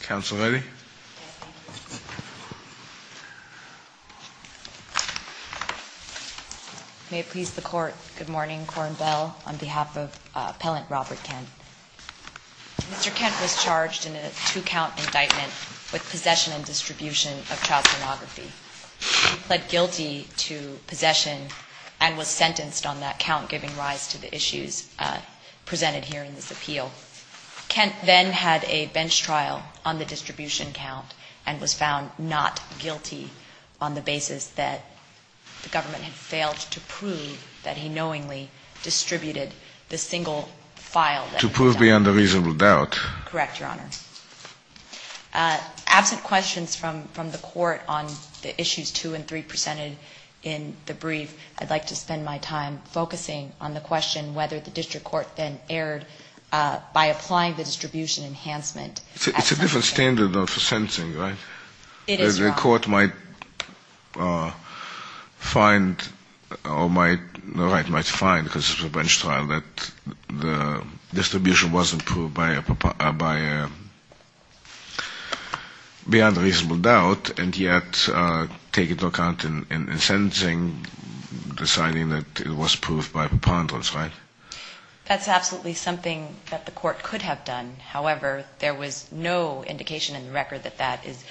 Counsel Ready. May it please the Court, Good morning. On behalf of appellant Robert Kent, Mr. Kent was charged in a two-count indictment with possession and distribution of child pornography. He pled guilty to possession and was sentenced on that count giving rise to the issues presented here in the appeal. Kent then had a bench trial on the distribution count and was found not guilty on the basis that the government had failed to prove that he knowingly distributed the single file that was found. To prove beyond a reasonable doubt. Correct, Your Honor. Absent questions from the Court on the issues 2 and 3 presented in the brief, I'd like to distribution enhancement. It's a different standard for sentencing, right? It is, Your Honor. The Court might find or might, right, might find because it was a bench trial that the distribution wasn't proved by a, beyond a reasonable doubt and yet take into account in sentencing deciding that it was proved by preponderance, right? That's absolutely something that the Court could have done. However, there was no indication in the record that that is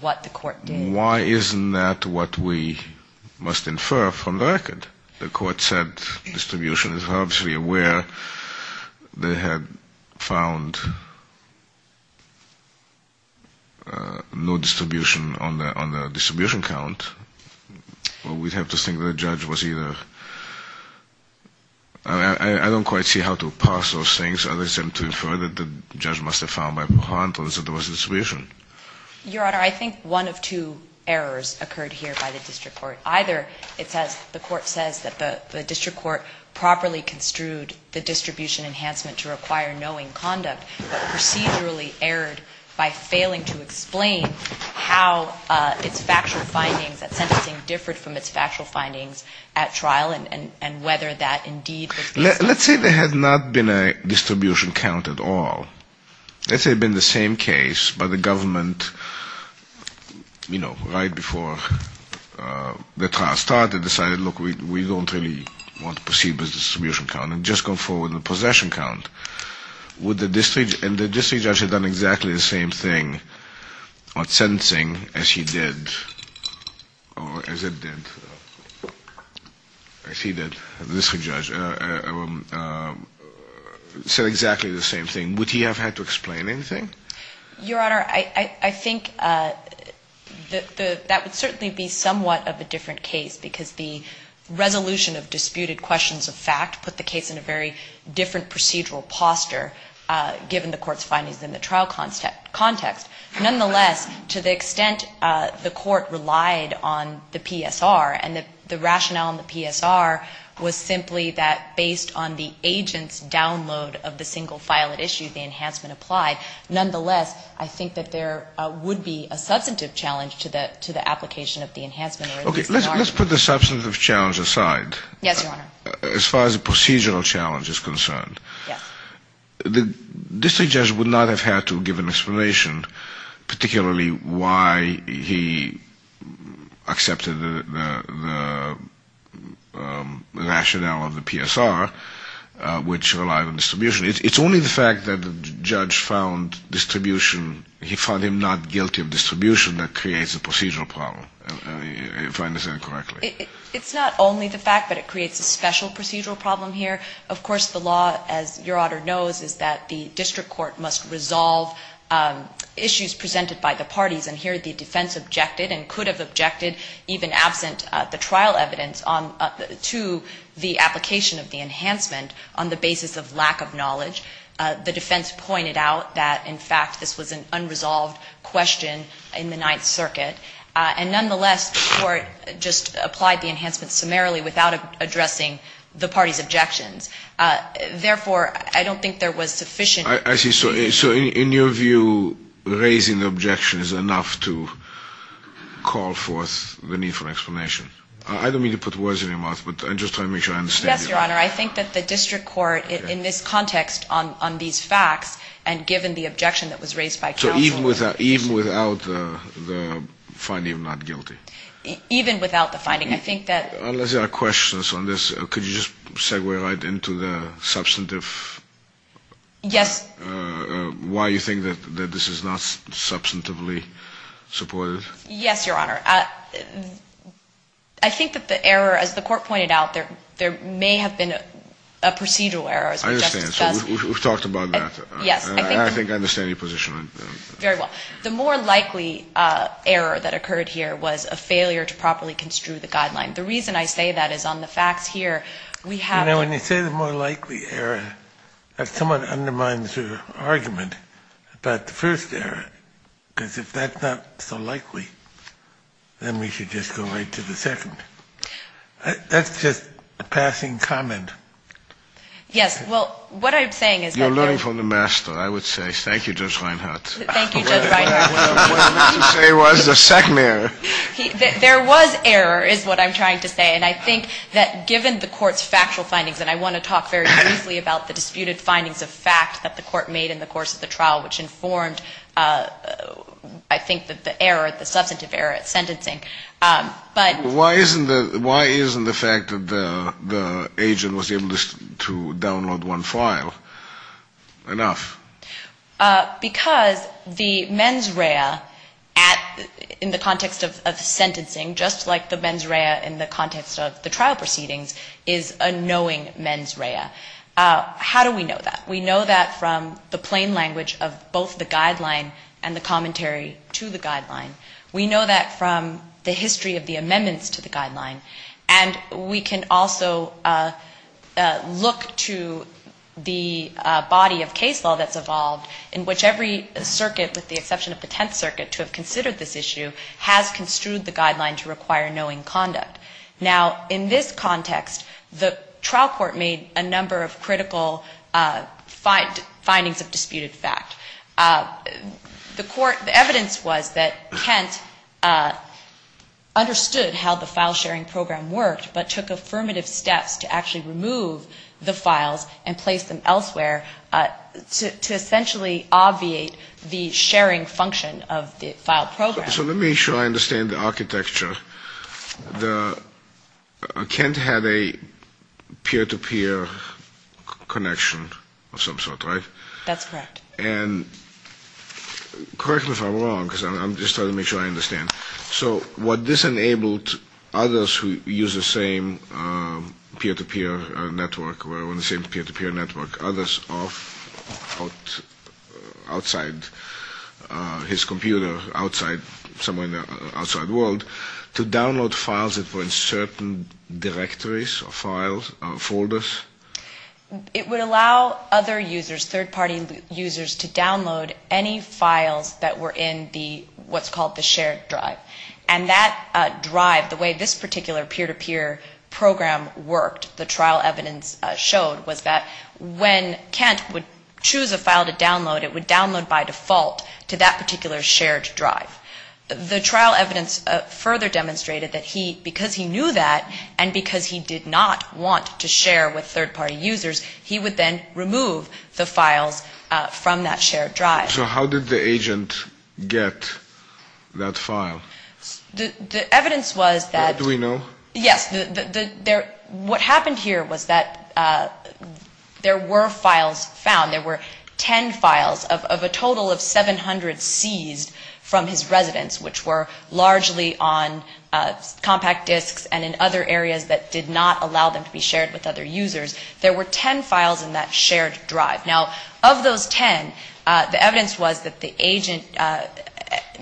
what the Court did. Why isn't that what we must infer from the record? The Court said distribution is obviously where they had found no distribution on the distribution count. Well, we'd have to think the judge was either, I don't quite see how to parse those things other than to infer that the judge must have found by preponderance that there was distribution. Your Honor, I think one of two errors occurred here by the district court. Either it says, the court says that the district court properly construed the distribution enhancement to require knowing conduct but procedurally erred by failing to explain how its factual findings at sentencing differed from its factual findings at trial and whether that indeed was based on. Let's say there had not been a distribution count at all. Let's say it had been the same case but the government, you know, right before the trial started decided, look, we don't really want to proceed with the distribution count and just go forward with the possession count. Would the district, and the district judge had done exactly the same thing at sentencing as he did or as it did, as he did, the district judge, said exactly the same thing. Would he have had to explain anything? Your Honor, I think that would certainly be somewhat of a different case because the resolution of disputed questions of fact put the case in a very different procedural posture given the court's findings in the trial context. Nonetheless, to the extent the court relied on the PSR and the rationale in the PSR was simply that based on the agent's download of the single file at issue, the enhancement applied. Nonetheless, I think that there would be a substantive challenge to the application of the enhancement. Okay. Let's put the substantive challenge aside. Yes, Your Honor. As far as the procedural challenge is concerned. Yeah. The district judge would not have had to give an explanation, particularly why he accepted the rationale of the PSR, which relied on distribution. It's only the fact that the judge found distribution, he found him not guilty of distribution that creates a procedural problem, if I understand correctly. It's not only the fact that it creates a special procedural problem here. Of course, the law, as Your Honor knows, is that the district court must resolve issues presented by the parties. And here the defense objected and could have objected, even absent the trial evidence, to the application of the enhancement on the basis of lack of knowledge. The defense pointed out that, in fact, this was an unresolved question in the Ninth Circuit. And nonetheless, the court just applied the enhancement summarily without addressing the parties' objections. Therefore, I don't think there was sufficient. I see. So in your view, raising the objection is enough to call forth the need for explanation. I don't mean to put words in your mouth, but I'm just trying to make sure I understand you. Yes, Your Honor. I think that the district court, in this context on these facts, and given the objection that was raised by counsel... So even without the finding of not guilty? Even without the finding. I think that... Unless there are questions on this, could you just segue right into the substantive... Yes. ...why you think that this is not substantively supported? Yes, Your Honor. I think that the error, as the court pointed out, there may have been a procedural error, as we just discussed. I understand. So we've talked about that. Yes. And I think I understand your position. Very well. The more likely error that occurred here was a failure to properly construe the guideline. The reason I say that is on the facts here, we have... You know, when you say the more likely error, that somewhat undermines your argument about the first error. Because if that's not so likely, then we should just go right to the second. That's just a passing comment. Yes. Well, what I'm saying is that... You're learning from the master, I would say. Thank you, Judge Reinhart. Thank you, Judge Reinhart. What I meant to say was the second error. There was error, is what I'm trying to say. And I think that given the court's factual findings, and I want to talk very briefly about the disputed findings of fact that the court made in the course of the trial, which informed, I think, the error, the substantive error at sentencing. But... Why isn't the fact that the agent was able to download one file enough? Because the mens rea in the context of sentencing, just like the mens rea in the context of the trial proceedings, is a knowing mens rea. How do we know that? We know that from the plain language of both the guideline and the commentary to the guideline. We know that from the history of the amendments to the guideline. And we can also look to the body of case law that's evolved in which every circuit, with the exception of the Tenth Circuit, to have considered this issue, has construed the guideline to require knowing conduct. Now, in this context, the trial court made a number of critical findings of disputed fact. The evidence was that Kent understood how the file sharing program worked, but took affirmative steps to actually remove the files and place them elsewhere to essentially obviate the sharing function of the file program. So let me show I understand the architecture. Kent had a peer-to-peer connection of some sort, right? That's correct. And correct me if I'm wrong, because I'm just trying to make sure I understand. So what this enabled others who use the same peer-to-peer network, others outside his computer, outside the outside world, to download files that were in certain directories or folders? It would allow other users, third-party users, to download any files that were in what's called the shared drive. And that drive, the way this particular peer-to-peer program worked, the trial evidence showed was that when Kent would choose a file to download, it would download by default to that particular shared drive. The trial evidence further demonstrated that because he knew that and because he did not want to share with third-party users, he would then remove the files from that shared drive. So how did the agent get that file? The evidence was that... Do we know? Yes. What happened here was that there were files found. There were 10 files of a total of 700 seized from his residence, which were largely on compact disks and in other areas that did not allow them to be shared with other users. There were 10 files in that shared drive. Now, of those 10, the evidence was that the agent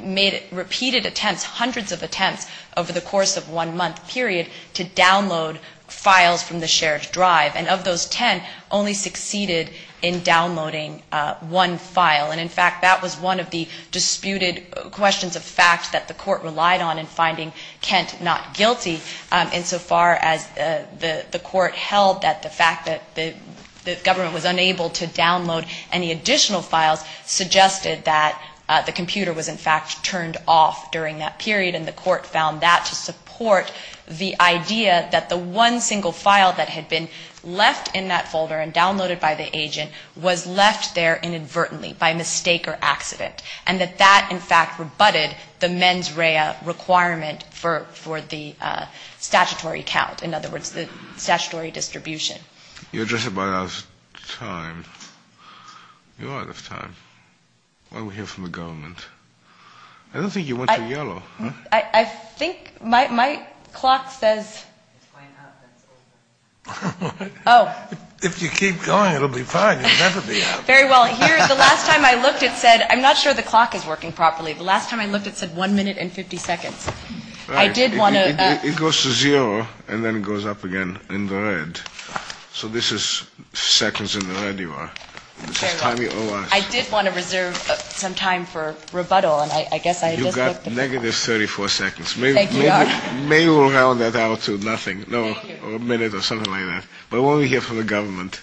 made repeated attempts, hundreds of attempts over the course of one month period to download files from the shared drive. And of those 10, only succeeded in downloading one file. And, in fact, that was one of the disputed questions of fact that the court relied on in finding Kent not guilty insofar as the court held that the fact that the government was unable to download any additional files suggested that the computer was, in fact, turned off during that period, and the court found that to support the idea that the one single file that had been left in that folder and downloaded by the agent was left there inadvertently by mistake or accident, and that that, in fact, rebutted the mens rea requirement for the statutory count, in other words, the statutory distribution. You address it by hours of time. You are out of time. Why don't we hear from the government? I don't think you went to yellow. I think my clock says... It's going up. Oh. If you keep going, it'll be fine. It'll never be up. Very well. The last time I looked, it said... I'm not sure the clock is working properly. The last time I looked, it said one minute and 50 seconds. I did want to... It goes to zero, and then it goes up again in the red. So this is seconds in the red you are. I did want to reserve some time for rebuttal, and I guess I just looked at... You've got negative 34 seconds. Thank you, Your Honor. Maybe we'll round that out to nothing. No, a minute or something like that. But why don't we hear from the government?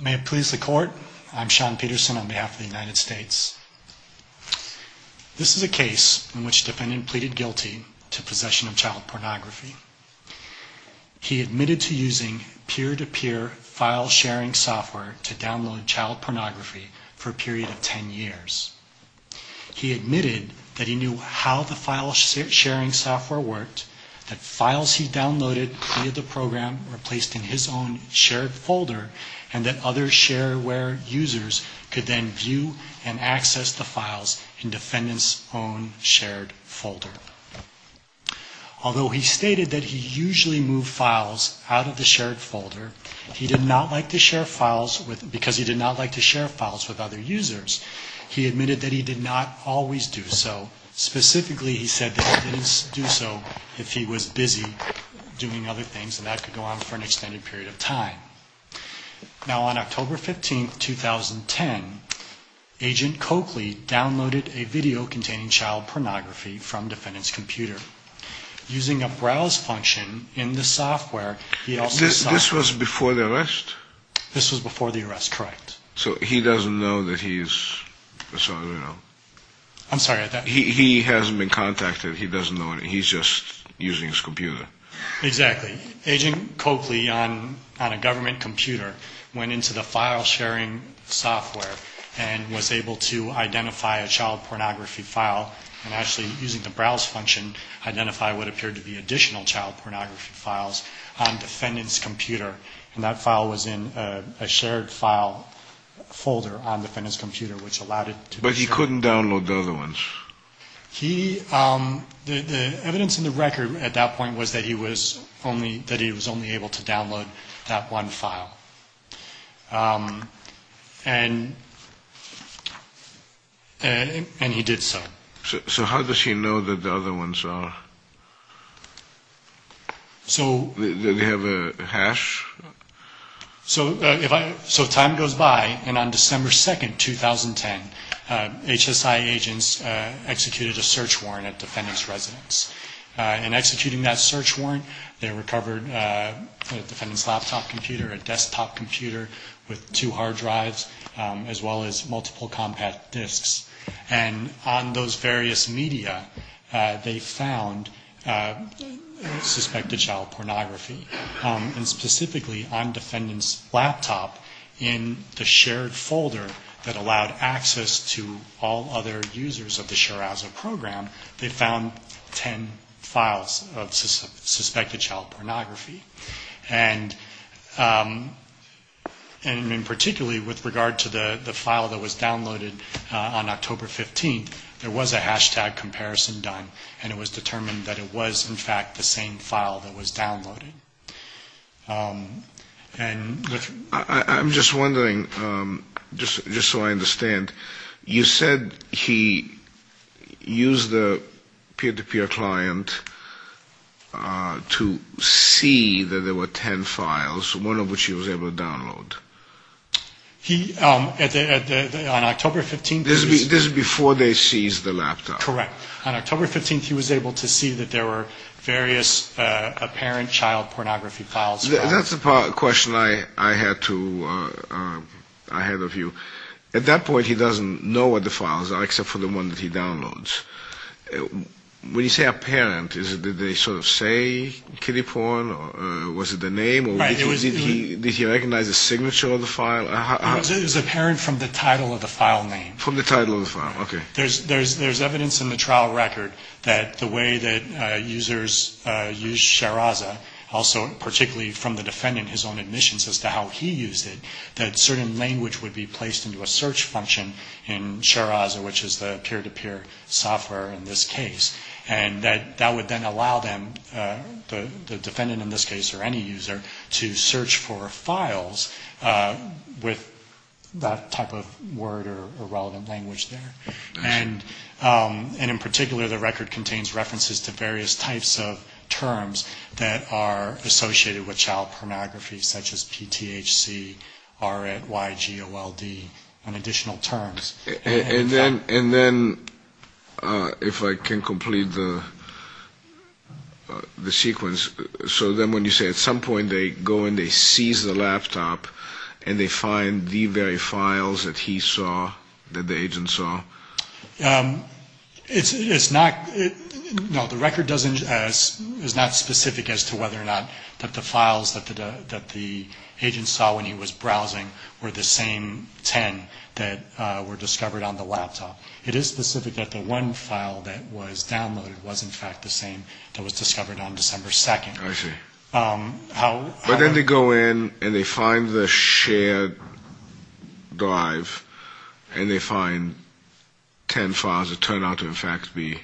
May it please the court. I'm Sean Peterson on behalf of the United States. This is a case in which the defendant pleaded guilty to possession of child pornography. He admitted to using peer-to-peer file-sharing software to download child pornography for a period of 10 years. He admitted that he knew how to do it. He admitted that he knew how the file-sharing software worked, that files he downloaded via the program were placed in his own shared folder, and that other shareware users could then view and access the files in the defendant's own shared folder. Although he stated that he usually moved files out of the shared folder, he did not like to share files with... because he did not like to share files with other users. He admitted that he did not always do so. Specifically, he said that he didn't do so if he was busy doing other things, and that could go on for an extended period of time. Now, on October 15, 2010, Agent Coakley downloaded a video containing child pornography from the defendant's computer. Using a browse function in the software... This was before the arrest? This was before the arrest, correct. So he doesn't know that he's... I'm sorry, I... He hasn't been contacted. He doesn't know anything. He's just using his computer. Exactly. Agent Coakley, on a government computer, went into the file-sharing software and was able to identify a child pornography file and actually, using the browse function, identify what appeared to be additional child pornography files on the defendant's computer. And that file was in a shared file folder on the defendant's computer, which allowed it to be... But he couldn't download the other ones. He... The evidence in the record at that point was that he was only... that he was only able to download that one file. And... And he did so. So how does he know that the other ones are... So... Do they have a hash? So if I... So time goes by, and on December 2, 2010, HSI agents executed a search warrant at the defendant's residence. In executing that search warrant, they recovered the defendant's laptop computer, a desktop computer with two hard drives, as well as multiple compact disks. And on those various media, they found suspected child pornography. And specifically on defendant's laptop, in the shared folder that allowed access to all other users of the SHARAZA program, they found ten files of suspected child pornography. And... And particularly with regard to the file that was downloaded on October 15, there was a hashtag comparison done, and it was determined that it was, in fact, the same file that was downloaded. And... I'm just wondering, just so I understand, you said he used the peer-to-peer client to see that there were ten files, one of which he was able to download. He... On October 15... This is before they seized the laptop. Correct. On October 15, he was able to see that there were various apparent child pornography files. That's the question I had of you. At that point, he doesn't know what the files are, except for the one that he downloads. When you say apparent, did they sort of say kiddie porn? Was it the name? Did he recognize the signature of the file? It was apparent from the title of the file name. From the title of the file, okay. There's evidence in the trial record that the way that users use Sharaza, also particularly from the defendant, his own admissions as to how he used it, that certain language would be placed into a search function in Sharaza, which is the peer-to-peer software in this case, and that that would then allow them, the defendant in this case or any user, to search for files with that type of word or relevant language there. And in particular, the record contains references to various types of terms that are associated with child pornography, such as PTHC, RIT, YGOLD, and additional terms. And then, if I can complete the sequence, so then when you say at some point they go in, they seize the laptop, and they find the very files that he saw, that the agent saw? It's not, no, the record doesn't, is not specific as to whether or not that the files that the agent saw when he was browsing were the same ten that were discovered on the laptop. It is specific that the one file that was downloaded was, in fact, the same that was discovered on December 2nd. But then they go in, and they find the shared drive, and they find ten files that turn out to, in fact, be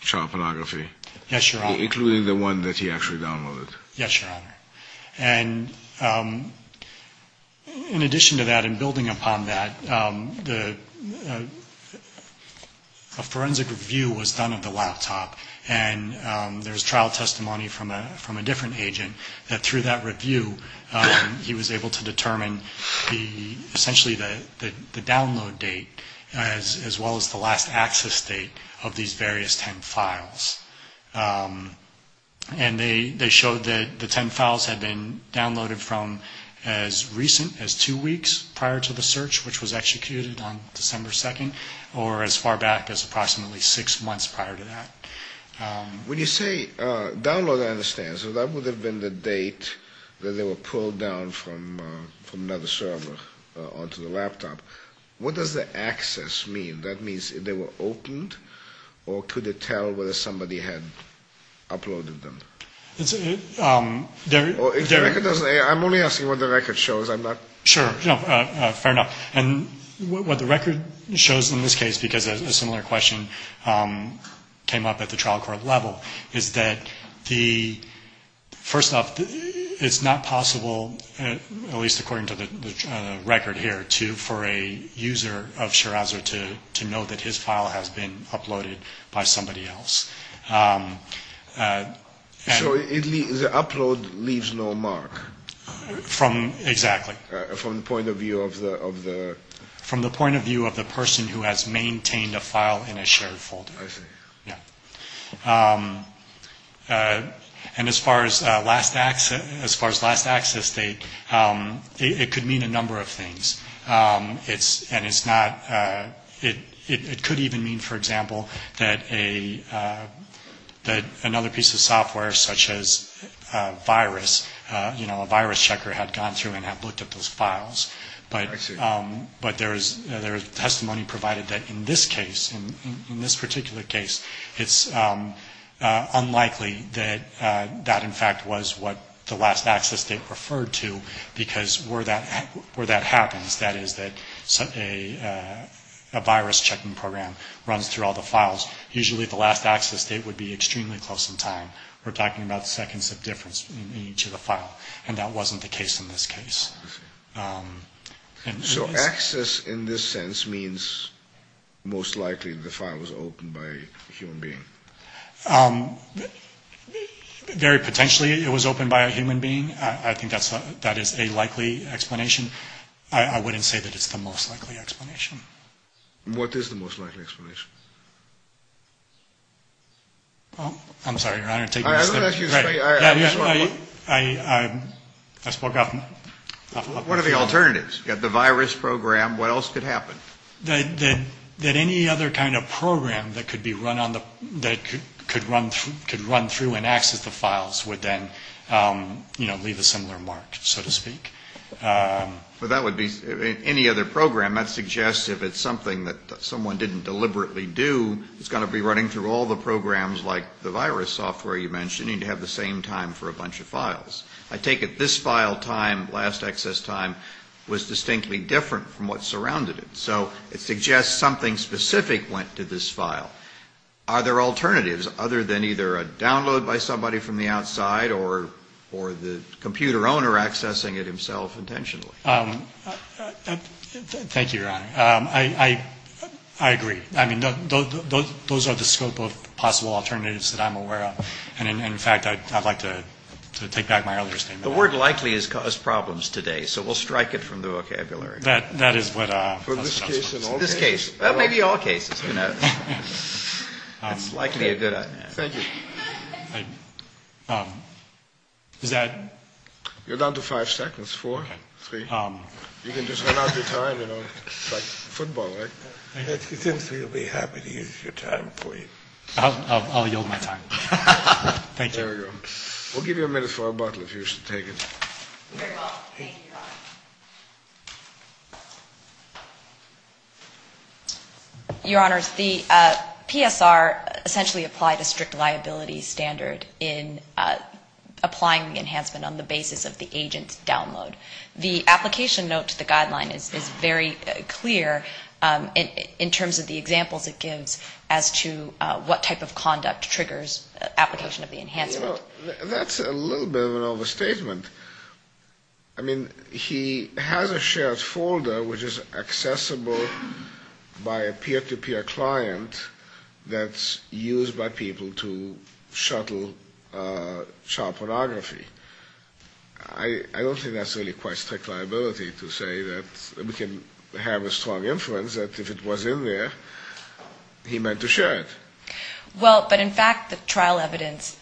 child pornography. Yes, Your Honor. Including the one that he actually downloaded. Yes, Your Honor. And in addition to that, and building upon that, a forensic review was done of the laptop, and there's trial testimony from a different agent that through that review, he was able to determine essentially the download date, as well as the last access date of these various ten files. And they showed that the ten files had been downloaded from as recent as two weeks prior to the search, which was executed on December 2nd, or as far back as approximately six months prior to that. When you say download, I understand. So that would have been the date that they were pulled down from another server onto the laptop. What does the access mean? That means they were opened, or could it tell whether somebody had uploaded them? I'm only asking what the record shows. Sure, fair enough. And what the record shows in this case, because a similar question came up at the trial court level, is that the, first off, it's not possible, at least according to the record here, for a user of Shiraz to know that his file has been uploaded by somebody else. So the upload leaves no mark? Exactly. From the point of view of the? From the point of view of the person who has maintained a file in a shared folder. I see. Yeah. And as far as last access date, it could mean a number of things. And it's not, it could even mean, for example, that a, that another piece of software such as virus, you know, a virus checker had gone through and had looked at those files. But there is testimony provided that in this case, in this particular case, it's unlikely that that, in fact, was what the last access date referred to, because where that happens, that is that a virus checking program runs through all the files, usually the last access date would be extremely close in time. We're talking about seconds of difference in each of the files, and that wasn't the case in this case. So access in this sense means most likely the file was opened by a human being? Very potentially it was opened by a human being. I think that is a likely explanation. I wouldn't say that it's the most likely explanation. What is the most likely explanation? I'm sorry, Your Honor. I spoke up. One of the alternatives, you have the virus program, what else could happen? That any other kind of program that could be run on the, that could run through and access the files would then, you know, leave a similar mark, so to speak. But that would be, any other program, that suggests if it's something that someone didn't deliberately do, it's got to be running through all the programs like the virus software, you know, we mentioned, you need to have the same time for a bunch of files. I take it this file time, last access time, was distinctly different from what surrounded it. So it suggests something specific went to this file. Are there alternatives other than either a download by somebody from the outside or the computer owner accessing it himself intentionally? Thank you, Your Honor. I agree. I mean, those are the scope of possible alternatives that I'm aware of. And in fact, I'd like to take back my earlier statement. The word likely has caused problems today, so we'll strike it from the vocabulary. That is what. This case, maybe all cases, you know, it's likely a good idea. Thank you. You're down to five seconds, four, three. You can just run out of your time, you know, like football. I'll yield my time. We'll give you a minute for a bottle if you should take it. Your Honor, the PSR essentially applied a strict liability standard in applying the enhancement on the basis of the agent's download. The application note to the guideline is very clear in terms of the examples it gives as to what type of conduct triggers the download. That's a little bit of an overstatement. I mean, he has a shared folder which is accessible by a peer-to-peer client that's used by people to shuttle child pornography. I don't think that's really quite strict liability to say that we can have a strong inference that if it was in there, he meant to share it. Well, but in fact, the trial evidence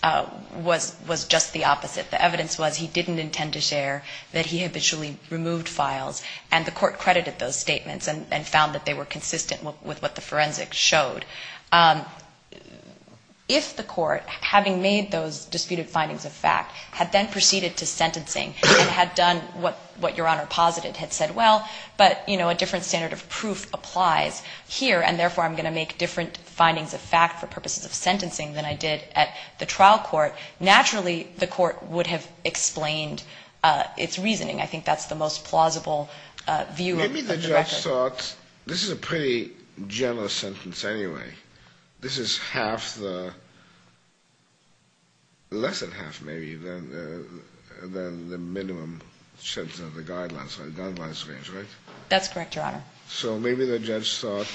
was just the opposite. The evidence was he didn't intend to share, that he habitually removed files, and the court credited those statements and found that they were consistent with what the forensic showed. If the court, having made those disputed findings of fact, had then proceeded to sentencing and had done what Your Honor posited, had said, well, but, you know, a different standard of proof applies here, and therefore I'm going to make different findings of fact for purposes of sentencing than I did at the trial court, naturally the court would have explained its reasoning. I think that's the most plausible view of the record. Maybe the judge thought, this is a pretty general sentence anyway. This is half the, less than half maybe than the minimum sentence of the guidelines, the guidelines range, right? That's correct, Your Honor. So maybe the judge thought,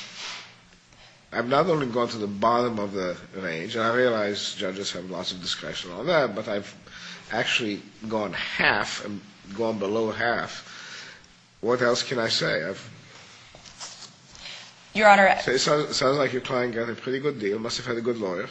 I've not only gone to the bottom of the range, and I realize judges have lots of discretion on that, but I've actually gone half, gone below half. What else can I say? Your Honor. It sounds like your client got a pretty good deal, must have had a good lawyer.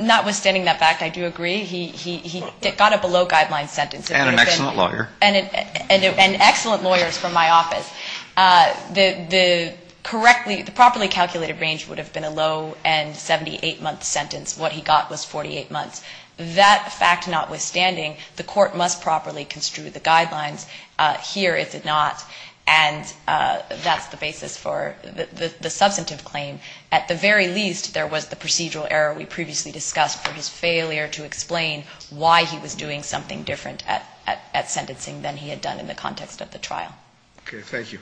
Notwithstanding that fact, I do agree. He got a below guidelines sentence. And an excellent lawyer. And excellent lawyers from my office. The correctly, the properly calculated range would have been a low end 78-month sentence. What he got was 48 months. That fact notwithstanding, the court must properly construe the guidelines. Here it did not. And that's the basis for the substantive claim. At the very least, there was the procedural error we previously discussed for his failure to explain why he was doing something different at sentencing than he had done in the context of the trial. Okay, thank you.